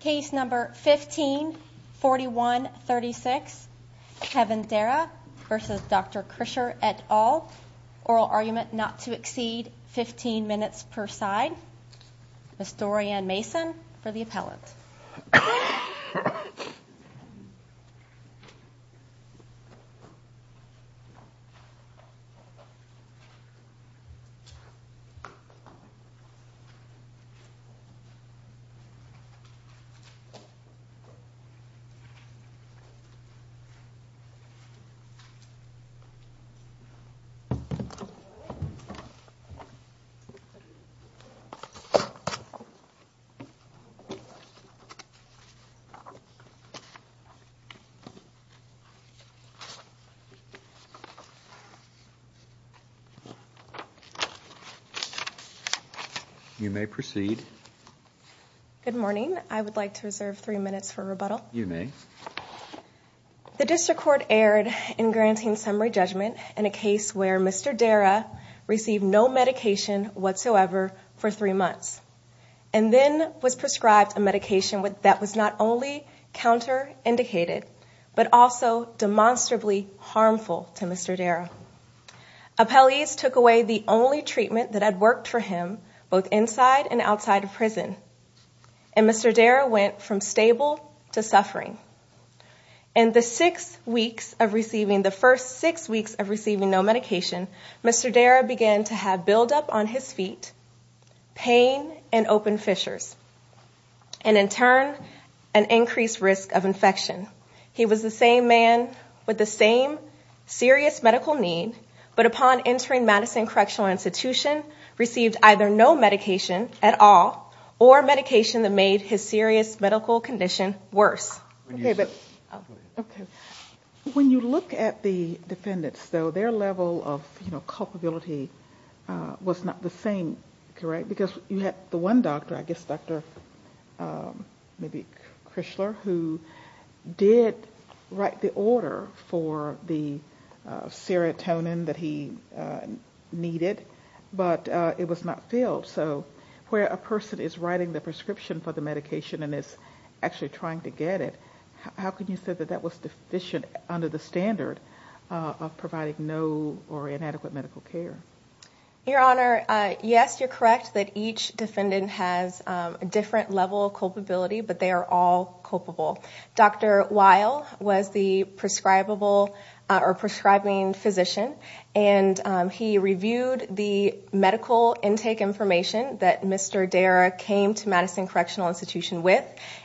Case number 154136 Kevin Darrah v. Dr. Krisher et al. Oral argument not to exceed 15 minutes per side. Ms. Dorianne Mason for the appellant. You may proceed. Good morning. I would like to reserve three minutes for rebuttal. You may. The district court erred in granting summary judgment in a case where Mr. Darrah received no medication whatsoever for three months and then was prescribed a medication that was not only counter-indicated but also demonstrably harmful to Mr. Darrah. Appellees took away the only treatment that had worked for him both inside and outside of prison. And Mr. Darrah went from stable to suffering. In the first six weeks of receiving no medication, Mr. Darrah began to have buildup on his feet, pain, and open fissures. And in turn, an increased risk of infection. He was the same man with the same serious medical need, but upon entering Madison Correctional Institution, received either no medication at all or medication that made his serious medical condition worse. When you look at the defendants, though, their level of culpability was not the same, correct? Because you had the one doctor, I guess Dr. maybe Chrysler, who did write the order for the serotonin that he needed, but it was not filled. So where a person is writing the prescription for the medication and is actually trying to get it, how can you say that that was deficient under the standard of providing no or inadequate medical care? Your Honor, yes, you're correct that each defendant has a different level of culpability, but they are all culpable. Dr. Weil was the prescribable or prescribing physician, and he reviewed the medical intake information that Mr. Darrah came to Madison Correctional Institution with,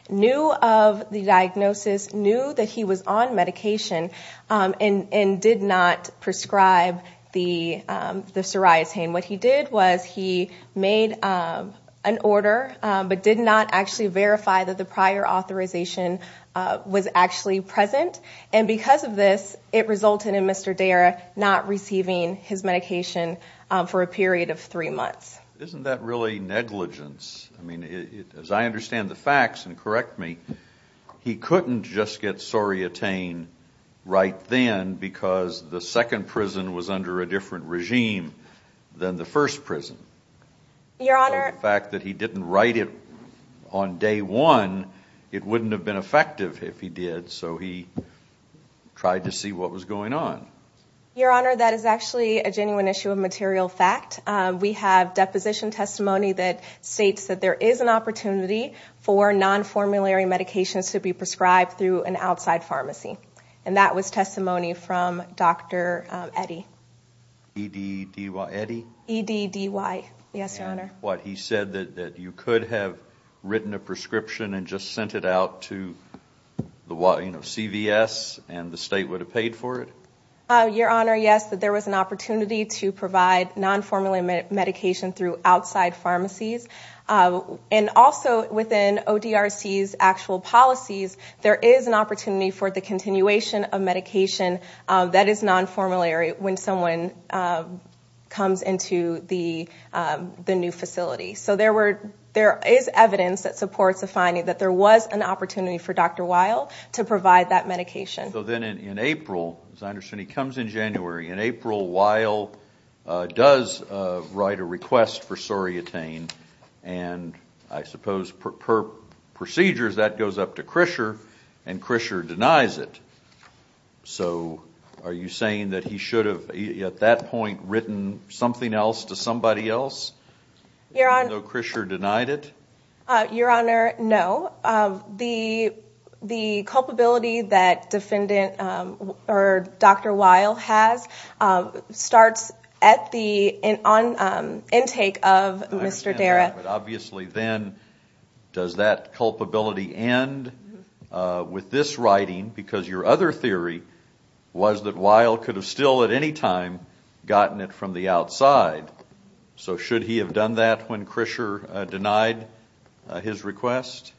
knew of the diagnosis, knew that he was on medication, and did not prescribe the psoriasis. What he did was he made an order but did not actually verify that the prior authorization was actually present, and because of this, it resulted in Mr. Darrah not receiving his medication for a period of three months. Isn't that really negligence? I mean, as I understand the facts, and correct me, he couldn't just get sorreatine right then because the second prison was under a different regime than the first prison. Your Honor. So the fact that he didn't write it on day one, it wouldn't have been effective if he did, so he tried to see what was going on. Your Honor, that is actually a genuine issue of material fact. We have deposition testimony that states that there is an opportunity for nonformulary medications to be prescribed through an outside pharmacy, and that was testimony from Dr. Eddy. E-D-D-Y, Eddy? E-D-D-Y, yes, Your Honor. What, he said that you could have written a prescription and just sent it out to CVS, and the state would have paid for it? Your Honor, yes, that there was an opportunity to provide nonformulary medication through outside pharmacies. And also within ODRC's actual policies, there is an opportunity for the continuation of medication that is nonformulary when someone comes into the new facility. So there is evidence that supports the finding that there was an opportunity for Dr. Weil to provide that medication. So then in April, as I understand, he comes in January, and April Weil does write a request for sorreatine, and I suppose per procedures that goes up to Krischer and Krischer denies it. So are you saying that he should have at that point written something else to somebody else even though Krischer denied it? Your Honor, no. The culpability that defendant or Dr. Weil has starts at the intake of Mr. Dara. I understand that, but obviously then does that culpability end with this writing? Because your other theory was that Weil could have still at any time gotten it from the outside. So should he have done that when Krischer denied his request?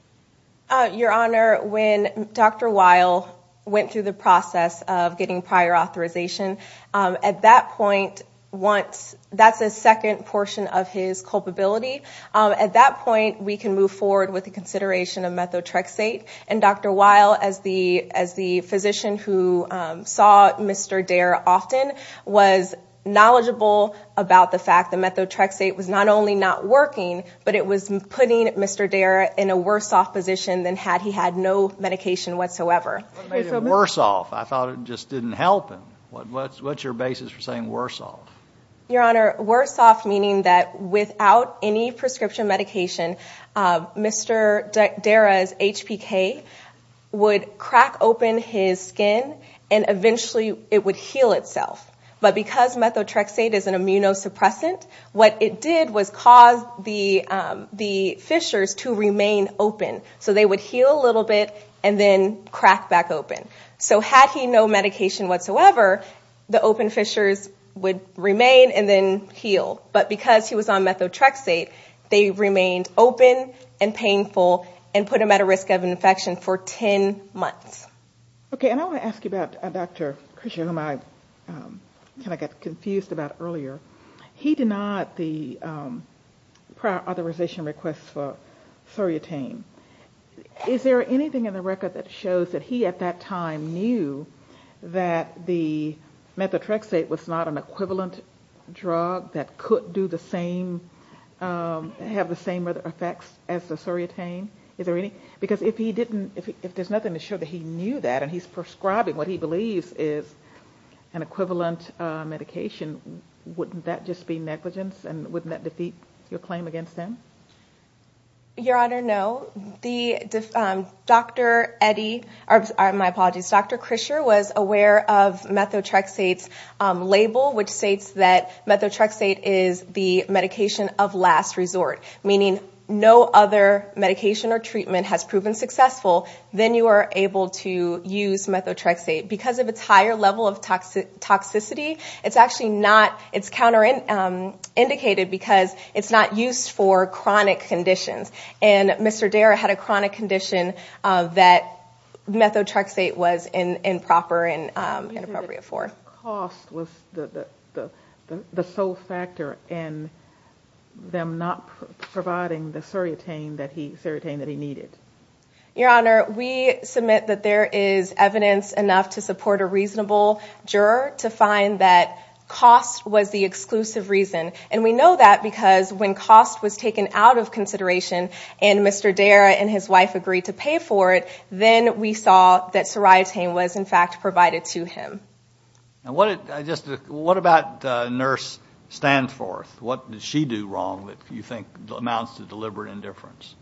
Your Honor, when Dr. Weil went through the process of getting prior authorization, at that point, that's a second portion of his culpability. At that point, we can move forward with the consideration of methotrexate, and Dr. Weil, as the physician who saw Mr. Dara often, was knowledgeable about the fact that methotrexate was not only not working, but it was putting Mr. Dara in a worse off position than had he had no medication whatsoever. What made it worse off? I thought it just didn't help him. What's your basis for saying worse off? Your Honor, worse off meaning that without any prescription medication, Mr. Dara's HPK would crack open his skin and eventually it would heal itself. But because methotrexate is an immunosuppressant, what it did was cause the fissures to remain open. So they would heal a little bit and then crack back open. So had he no medication whatsoever, the open fissures would remain and then heal. But because he was on methotrexate, they remained open and painful and put him at a risk of infection for 10 months. Okay, and I want to ask you about Dr. Christian, whom I kind of got confused about earlier. He denied the prior authorization request for Soriatine. Is there anything in the record that shows that he, at that time, knew that the methotrexate was not an equivalent drug that could have the same effects as the Soriatine? Is there any? Because if there's nothing to show that he knew that and he's prescribing what he believes is an equivalent medication, wouldn't that just be negligence and wouldn't that defeat your claim against him? Your Honor, no. My apologies, Dr. Christian was aware of methotrexate's label, which states that methotrexate is the medication of last resort, meaning no other medication or treatment has proven successful, then you are able to use methotrexate. Because of its higher level of toxicity, it's actually not, it's counter-indicated because it's not used for chronic conditions. And Mr. Dare had a chronic condition that methotrexate was improper and inappropriate for. You said that the cost was the sole factor in them not providing the Soriatine that he needed. Your Honor, we submit that there is evidence enough to support a reasonable juror to find that cost was the exclusive reason. And we know that because when cost was taken out of consideration and Mr. Dare and his wife agreed to pay for it, then we saw that Soriatine was in fact provided to him. What about Nurse Stanforth? What did she do wrong that you think amounts to deliberate indifference?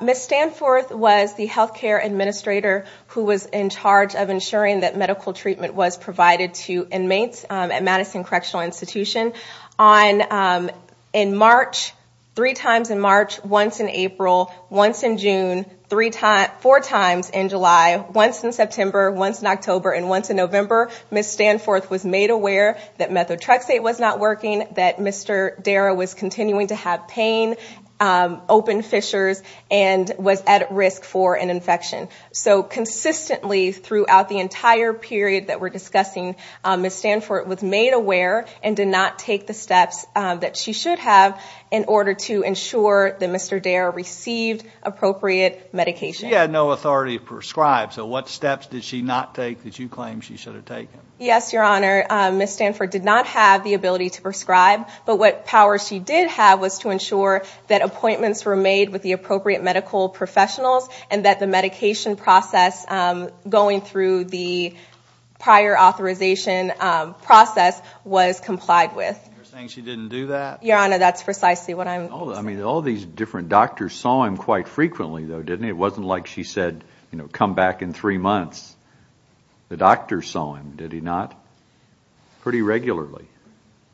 Ms. Stanforth was the health care administrator who was in charge of ensuring that medical treatment was provided to inmates at Madison Correctional Institution. Three times in March, once in April, once in June, four times in July, once in September, once in October, and once in November, Ms. Stanforth was made aware that methotrexate was not working, that Mr. Dare was continuing to have pain, open fissures, and was at risk for an infection. So consistently throughout the entire period that we're discussing, Ms. Stanforth was made aware and did not take the steps that she should have in order to ensure that Mr. Dare received appropriate medication. She had no authority to prescribe, so what steps did she not take that you claim she should have taken? Yes, Your Honor, Ms. Stanforth did not have the ability to prescribe, but what power she did have was to ensure that appointments were made with the appropriate medical professionals and that the medication process going through the prior authorization process was complied with. You're saying she didn't do that? Your Honor, that's precisely what I'm saying. I mean, all these different doctors saw him quite frequently, though, didn't they? It wasn't like she said, you know, come back in three months. The doctors saw him, did he not? Pretty regularly.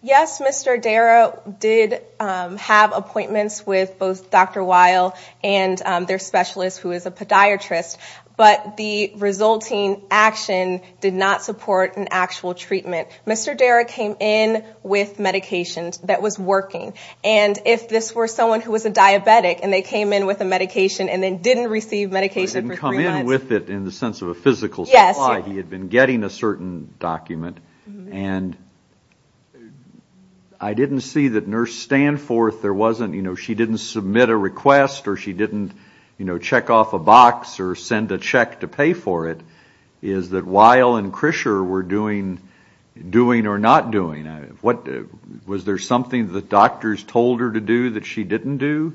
Yes, Mr. Dare did have appointments with both Dr. Weil and their specialist, who is a podiatrist, but the resulting action did not support an actual treatment. Mr. Dare came in with medications that was working, and if this were someone who was a diabetic and they came in with a medication and then didn't receive medication for three months. Didn't come in with it in the sense of a physical supply. Yes. That's why he had been getting a certain document, and I didn't see that Nurse Stanforth, there wasn't, you know, she didn't submit a request or she didn't, you know, check off a box or send a check to pay for it. Is that Weil and Krischer were doing or not doing? Was there something the doctors told her to do that she didn't do?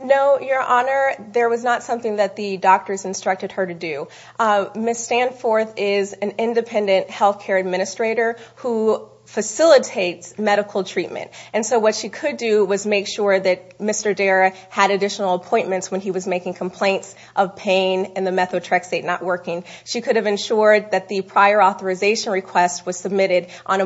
No, Your Honor, there was not something that the doctors instructed her to do. Ms. Stanforth is an independent health care administrator who facilitates medical treatment, and so what she could do was make sure that Mr. Dare had additional appointments when he was making complaints of pain and the methotrexate not working. She could have ensured that the prior authorization request was submitted in a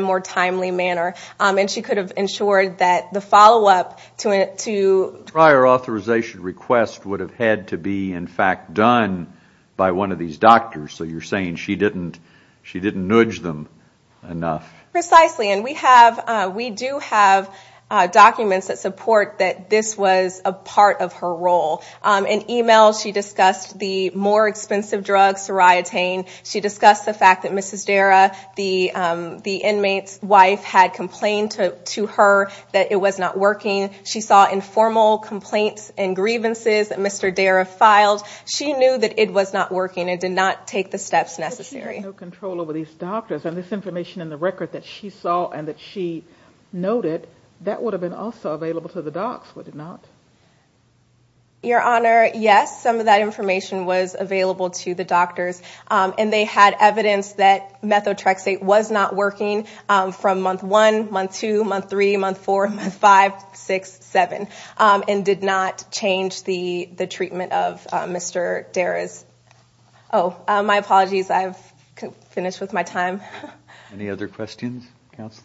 more timely manner, and she could have ensured that the follow-up to a prior authorization request would have had to be, in fact, done by one of these doctors. So you're saying she didn't nudge them enough. Precisely, and we do have documents that support that this was a part of her role. In e-mails, she discussed the more expensive drugs, seriatine. She discussed the fact that Mrs. Dare, the inmate's wife, had complained to her that it was not working. She saw informal complaints and grievances that Mr. Dare had filed. She knew that it was not working and did not take the steps necessary. If she had no control over these doctors and this information in the record that she saw and that she noted, that would have been also available to the docs, would it not? Your Honor, yes, some of that information was available to the doctors, and they had evidence that methotrexate was not working from month one, month two, month three, month four, month five, six, seven, and did not change the treatment of Mr. Dare's. Oh, my apologies, I've finished with my time. Any other questions?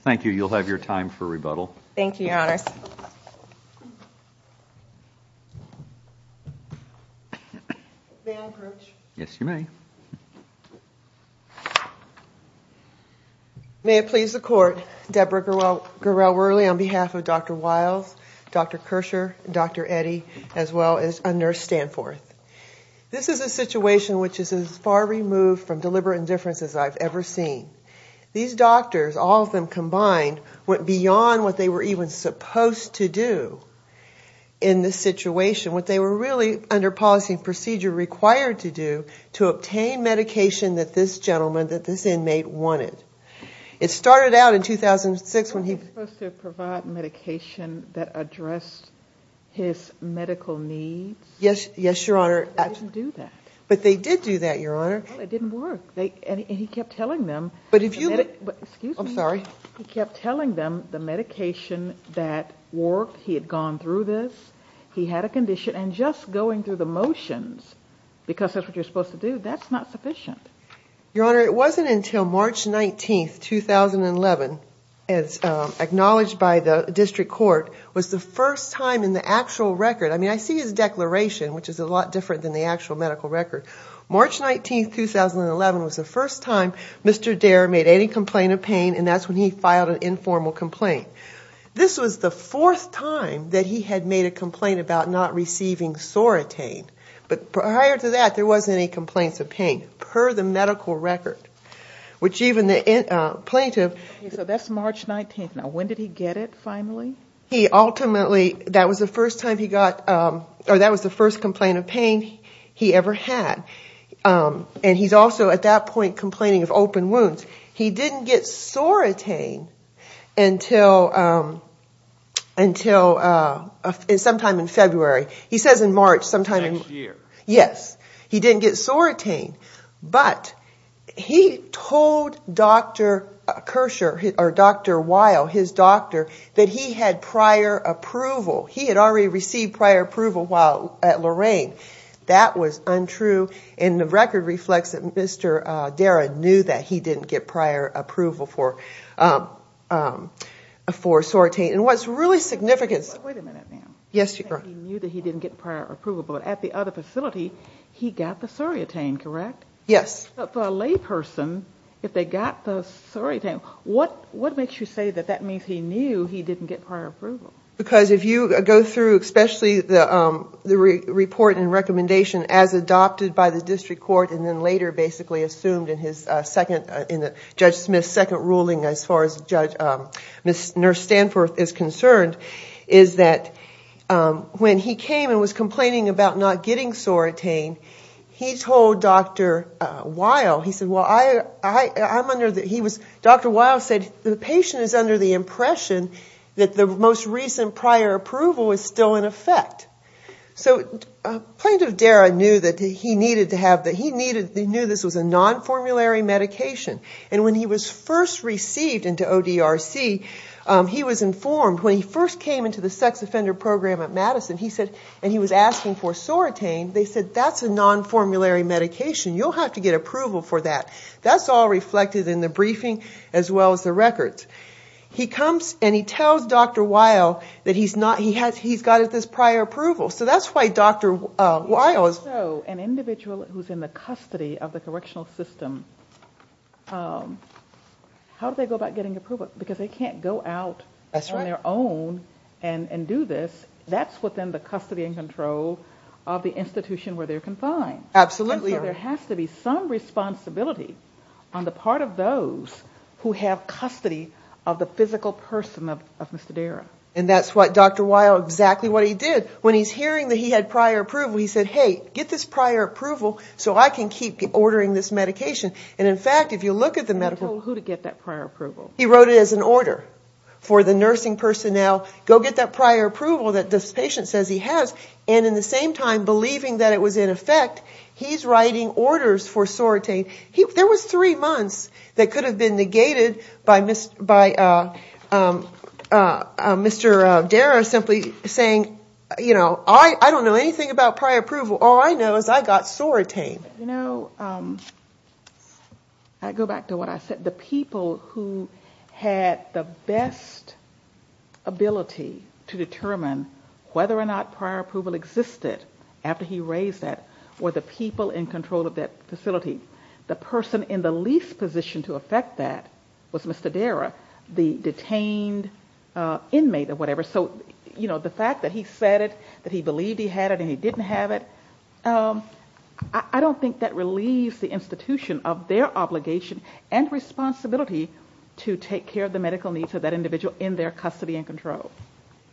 Thank you. You'll have your time for rebuttal. Thank you, Your Honors. May I approach? Yes, you may. Thank you. May it please the Court, Deborah Gurel-Werle on behalf of Dr. Wiles, Dr. Kersher, Dr. Eddy, as well as a nurse Stanforth. This is a situation which is as far removed from deliberate indifference as I've ever seen. These doctors, all of them combined, went beyond what they were even supposed to do in this situation, what they were really, under policy and procedure, required to do to obtain medication that this gentleman, that this inmate, wanted. It started out in 2006 when he was supposed to provide medication that addressed his medical needs. Yes, Your Honor. But they didn't do that. But they did do that, Your Honor. Well, it didn't work, and he kept telling them the medication that worked, he had gone through this, he had a condition, and just going through the motions, because that's what you're supposed to do, that's not sufficient. Your Honor, it wasn't until March 19, 2011, as acknowledged by the District Court, was the first time in the actual record, I mean, I see his declaration, which is a lot different than the actual medical record. March 19, 2011, was the first time Mr. Dare made any complaint of pain, and that's when he filed an informal complaint. This was the fourth time that he had made a complaint about not receiving soratane. But prior to that, there wasn't any complaints of pain, per the medical record, which even the plaintiff. So that's March 19. Now, when did he get it, finally? He ultimately, that was the first time he got, or that was the first complaint of pain he ever had. And he's also, at that point, complaining of open wounds. He didn't get soratane until sometime in February. He says in March, sometime in March. Next year. Yes. He didn't get soratane. But he told Dr. Kirscher, or Dr. Weil, his doctor, that he had prior approval. He had already received prior approval while at Lorain. That was untrue. And the record reflects that Mr. Dare knew that he didn't get prior approval for soratane. And what's really significant. Wait a minute now. Yes, Your Honor. He knew that he didn't get prior approval, but at the other facility, he got the soratane, correct? But for a layperson, if they got the soratane, what makes you say that that means he knew he didn't get prior approval? Because if you go through, especially the report and recommendation as adopted by the district court, and then later basically assumed in Judge Smith's second ruling as far as Nurse Stanford is concerned, is that when he came and was complaining about not getting soratane, he told Dr. Weil, he said, Dr. Weil said, the patient is under the impression that the most recent prior approval is still in effect. So Plaintiff Dare knew that he knew this was a non-formulary medication. And when he was first received into ODRC, he was informed, when he first came into the sex offender program at Madison, and he was asking for soratane, they said, that's a non-formulary medication. You'll have to get approval for that. That's all reflected in the briefing as well as the records. He comes and he tells Dr. Weil that he's got this prior approval. So that's why Dr. Weil is... So an individual who's in the custody of the correctional system, how do they go about getting approval? Because they can't go out on their own and do this. That's within the custody and control of the institution where they're confined. Absolutely. So there has to be some responsibility on the part of those who have custody of the physical person of Mr. Dare. And that's what Dr. Weil, exactly what he did. When he's hearing that he had prior approval, he said, hey, get this prior approval so I can keep ordering this medication. And in fact, if you look at the medical... He told who to get that prior approval. He wrote it as an order for the nursing personnel, go get that prior approval that this patient says he has. And in the same time, believing that it was in effect, he's writing orders for sorotain. There was three months that could have been negated by Mr. Dare simply saying, you know, I don't know anything about prior approval. All I know is I got sorotained. You know, I go back to what I said. The people who had the best ability to determine whether or not prior approval existed after he raised that were the people in control of that facility. The person in the least position to affect that was Mr. Dare, the detained inmate or whatever. So, you know, the fact that he said it, that he believed he had it and he didn't have it, I don't think that relieves the institution of their obligation and responsibility to take care of the medical needs of that individual in their custody and control.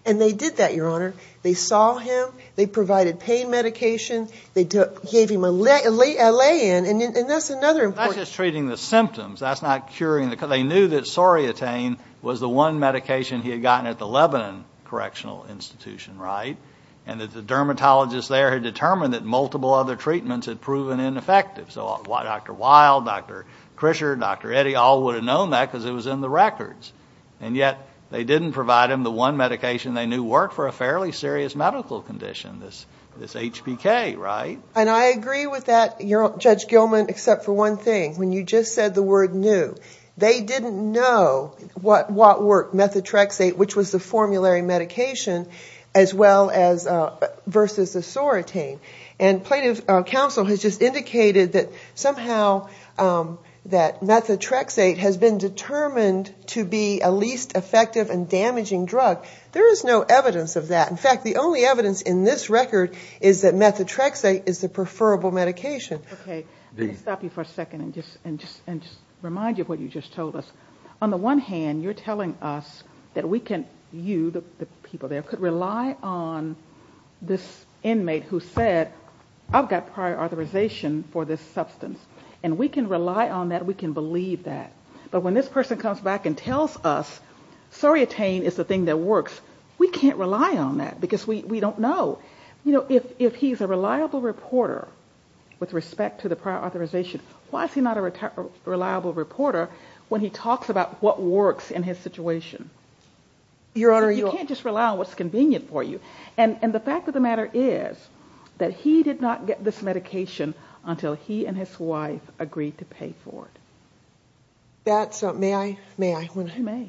And they did that, Your Honor. They saw him. They provided pain medication. They gave him a lay-in, and that's another important... That's just treating the symptoms. That's not curing the... They knew that sorotain was the one medication he had gotten at the Lebanon Correctional Institution, right, and that the dermatologist there had determined that multiple other treatments had proven ineffective. So Dr. Wild, Dr. Krischer, Dr. Eddy all would have known that because it was in the records. And yet they didn't provide him the one medication they knew worked for a fairly serious medical condition, this HPK, right? And I agree with that, Judge Gilman, except for one thing. When you just said the word knew, they didn't know what worked, methotrexate, which was the formulary medication, as well as versus the sorotain. And plaintiff's counsel has just indicated that somehow that methotrexate has been determined to be a least effective and damaging drug. There is no evidence of that. In fact, the only evidence in this record is that methotrexate is the preferable medication. Okay. Let me stop you for a second and just remind you of what you just told us. On the one hand, you're telling us that we can, you, the people there, could rely on this inmate who said, I've got prior authorization for this substance, and we can rely on that, we can believe that. But when this person comes back and tells us sorotain is the thing that works, we can't rely on that because we don't know. You know, if he's a reliable reporter with respect to the prior authorization, why is he not a reliable reporter when he talks about what works in his situation? Your Honor, you can't just rely on what's convenient for you. And the fact of the matter is that he did not get this medication until he and his wife agreed to pay for it. That's, may I, may I? You may.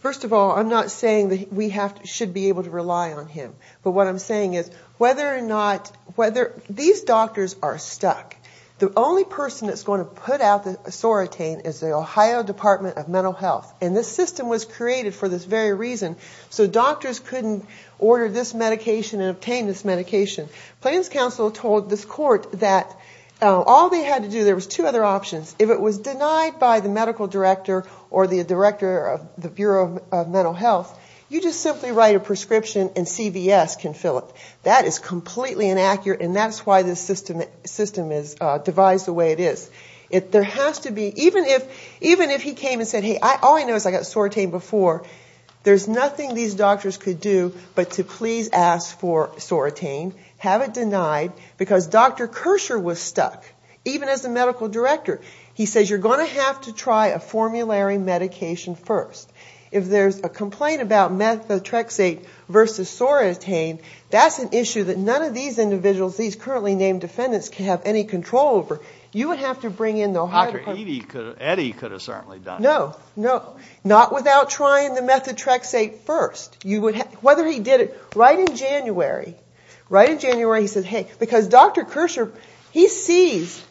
First of all, I'm not saying that we should be able to rely on him. But what I'm saying is whether or not, whether, these doctors are stuck. The only person that's going to put out the sorotain is the Ohio Department of Mental Health. And this system was created for this very reason. So doctors couldn't order this medication and obtain this medication. Plans Council told this court that all they had to do, there was two other options. If it was denied by the medical director or the director of the Bureau of Mental Health, you just simply write a prescription and CVS can fill it. That is completely inaccurate, and that's why this system is devised the way it is. There has to be, even if, even if he came and said, hey, all I know is I got sorotained before, there's nothing these doctors could do but to please ask for sorotained, have it denied, because Dr. Kersher was stuck, even as the medical director. He says you're going to have to try a formulary medication first. If there's a complaint about methotrexate versus sorotain, that's an issue that none of these individuals, these currently named defendants, can have any control over. You would have to bring in the Ohio Department of Mental Health. Dr. Eddy could have certainly done it. No, no, not without trying the methotrexate first. Whether he did it right in January, right in January, he said, hey, because Dr. Kersher, he sees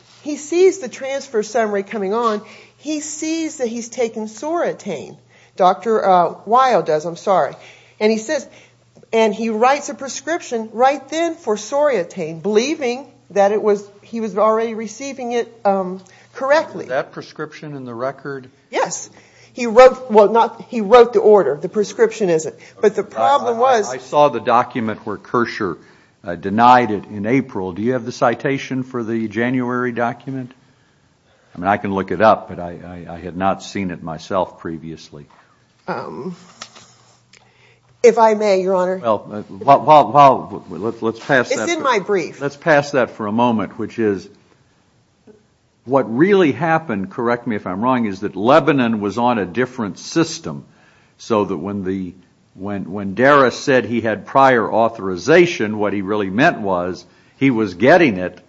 the transfer summary coming on, he sees that he's taken sorotain. Dr. Weill does, I'm sorry. And he says, and he writes a prescription right then for sorotain, believing that he was already receiving it correctly. Was that prescription in the record? Yes. He wrote the order. The prescription is it. But the problem was. I saw the document where Kersher denied it in April. Do you have the citation for the January document? I mean, I can look it up, but I had not seen it myself previously. If I may, Your Honor. Well, let's pass that. It's in my brief. Let's pass that for a moment, which is what really happened, correct me if I'm wrong, is that Lebanon was on a different system. So that when Daris said he had prior authorization, what he really meant was he was getting it,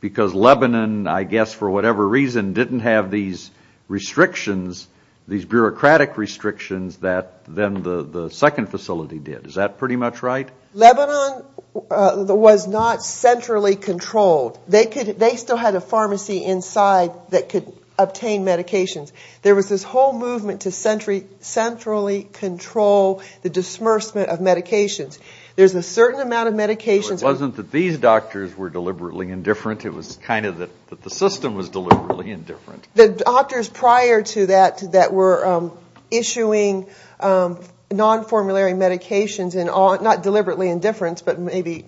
because Lebanon, I guess for whatever reason, didn't have these restrictions, these bureaucratic restrictions that then the second facility did. Is that pretty much right? Lebanon was not centrally controlled. They still had a pharmacy inside that could obtain medications. There was this whole movement to centrally control the disbursement of medications. There's a certain amount of medications. Well, it wasn't that these doctors were deliberately indifferent. It was kind of that the system was deliberately indifferent. The doctors prior to that that were issuing non-formulary medications, not deliberately indifferent, but maybe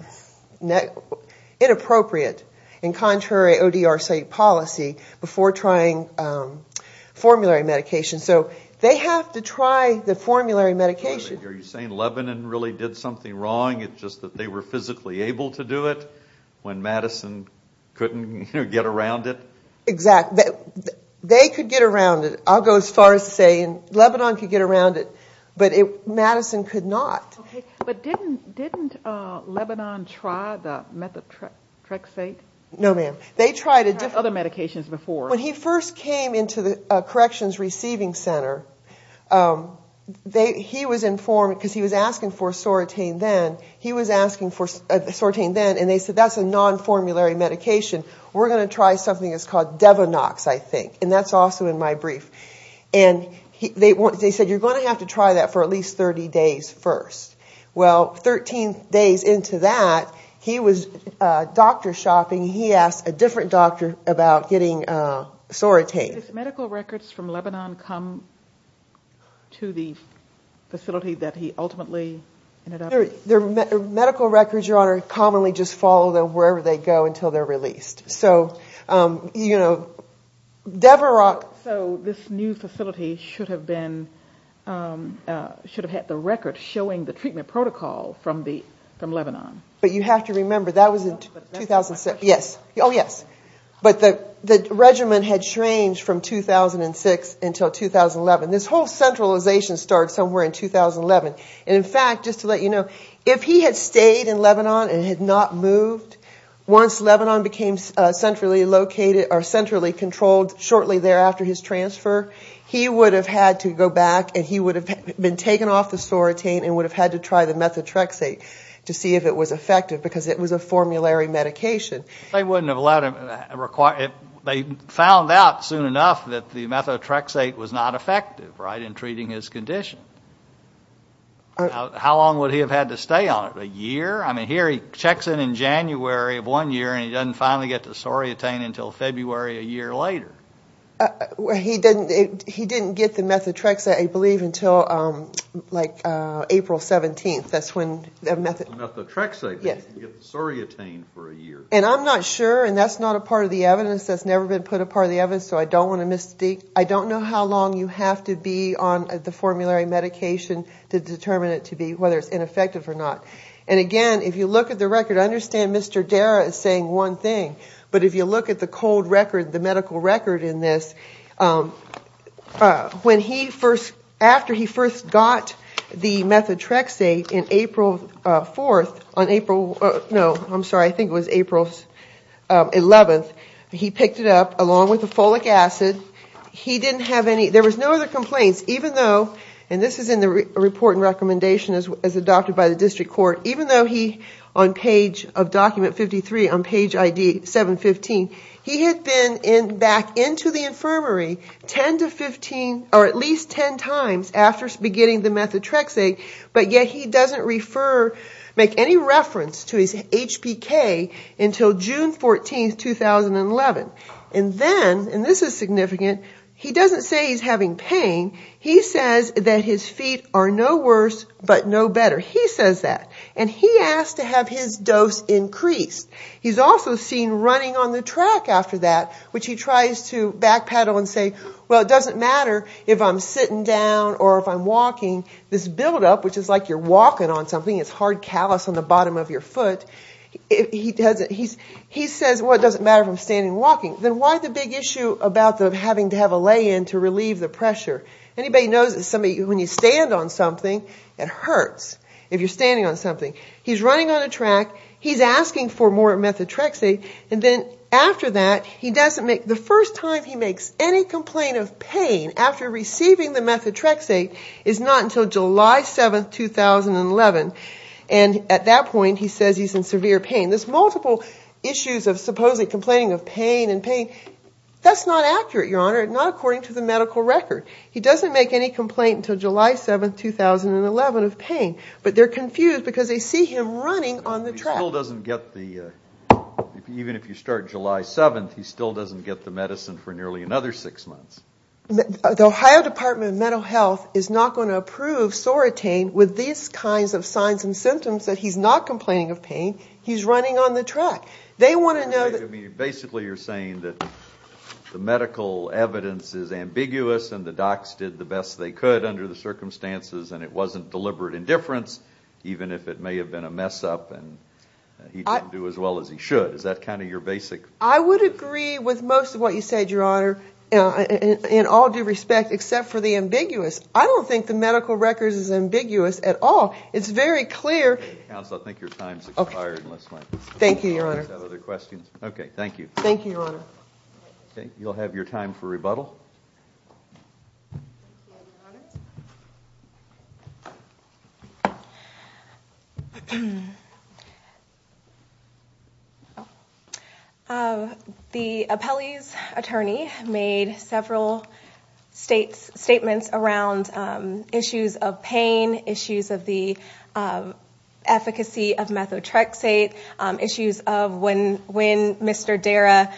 inappropriate, in contrary ODR site policy before trying formulary medication. So they have to try the formulary medication. Are you saying Lebanon really did something wrong? It's just that they were physically able to do it when Madison couldn't get around it? Exactly. They could get around it. I'll go as far as saying Lebanon could get around it, but Madison could not. But didn't Lebanon try the methotrexate? No, ma'am. They tried other medications before. When he first came into the Corrections Receiving Center, he was informed because he was asking for Soratane then. He was asking for Soratane then, and they said that's a non-formulary medication. We're going to try something that's called Devonox, I think, and that's also in my brief. They said you're going to have to try that for at least 30 days first. Well, 13 days into that, he was doctor shopping. He asked a different doctor about getting Soratane. Do medical records from Lebanon come to the facility that he ultimately ended up in? Medical records, Your Honor, commonly just follow them wherever they go until they're released. So, you know, Devonox. So this new facility should have had the record showing the treatment protocol from Lebanon. But you have to remember that was in 2006. Oh, yes. But the regimen had changed from 2006 until 2011. This whole centralization started somewhere in 2011. And, in fact, just to let you know, if he had stayed in Lebanon and had not moved, once Lebanon became centrally located or centrally controlled shortly thereafter his transfer, he would have had to go back and he would have been taken off the Soratane and would have had to try the methotrexate to see if it was effective because it was a formulary medication. They wouldn't have allowed him. They found out soon enough that the methotrexate was not effective, right, in treating his condition. How long would he have had to stay on it? A year? I mean, here he checks in in January of one year and he doesn't finally get the Soratane until February a year later. He didn't get the methotrexate, I believe, until, like, April 17th. That's when the methotrexate, he didn't get the Soratane for a year. And I'm not sure, and that's not a part of the evidence, that's never been put a part of the evidence, so I don't want to miss the date. I don't know how long you have to be on the formulary medication to determine it to be, whether it's ineffective or not. And again, if you look at the record, I understand Mr. Dara is saying one thing, but if you look at the cold record, the medical record in this, when he first, after he first got the methotrexate in April 4th, on April, no, I'm sorry, I think it was April 11th, he picked it up along with the folic acid. He didn't have any, there was no other complaints, even though, and this is in the report and recommendation as adopted by the district court, even though he, on page of document 53, on page ID 715, he had been back into the infirmary 10 to 15, or at least 10 times after beginning the methotrexate, but yet he doesn't refer, make any reference to his HPK until June 14th, 2011. And then, and this is significant, he doesn't say he's having pain, he says that his feet are no worse but no better. He says that. And he asked to have his dose increased. He's also seen running on the track after that, which he tries to backpedal and say, well, it doesn't matter if I'm sitting down or if I'm walking, this buildup, which is like you're walking on something, it's hard callus on the bottom of your foot, he says, well, it doesn't matter if I'm standing or walking. Then why the big issue about having to have a lay-in to relieve the pressure? Anybody knows that when you stand on something, it hurts, if you're standing on something. He's running on a track, he's asking for more methotrexate, and then after that, he doesn't make, the first time he makes any complaint of pain after receiving the methotrexate is not until July 7th, 2011. And at that point, he says he's in severe pain. This multiple issues of supposedly complaining of pain and pain, that's not accurate, Your Honor, not according to the medical record. He doesn't make any complaint until July 7th, 2011 of pain, but they're confused because they see him running on the track. He still doesn't get the, even if you start July 7th, he still doesn't get the medicine for nearly another six months. The Ohio Department of Mental Health is not going to approve Soratane with these kinds of signs and symptoms that he's not complaining of pain, he's running on the track. They want to know that... Basically, you're saying that the medical evidence is ambiguous and the docs did the best they could under the circumstances and it wasn't deliberate indifference, even if it may have been a mess-up and he didn't do as well as he should. Is that kind of your basic... I would agree with most of what you said, Your Honor, in all due respect, except for the ambiguous. I don't think the medical record is ambiguous at all. It's very clear... Counsel, I think your time has expired. Thank you, Your Honor. Do you have other questions? Okay, thank you. Thank you, Your Honor. You'll have your time for rebuttal. The appellee's attorney made several statements around issues of pain, issues of the efficacy of methotrexate, issues of when Mr. Dara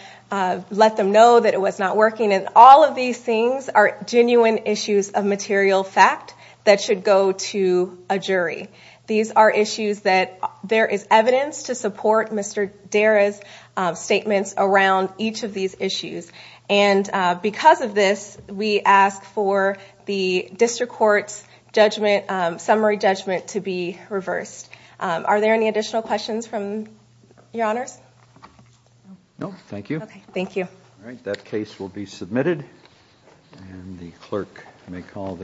let them know that it was not working, and all of these things are genuine issues of material fact that should go to a jury. These are issues that there is evidence to support Mr. Dara's statements around each of these issues. Because of this, we ask for the district court's summary judgment to be reversed. Are there any additional questions from Your Honors? No, thank you. Okay, thank you. All right, that case will be submitted.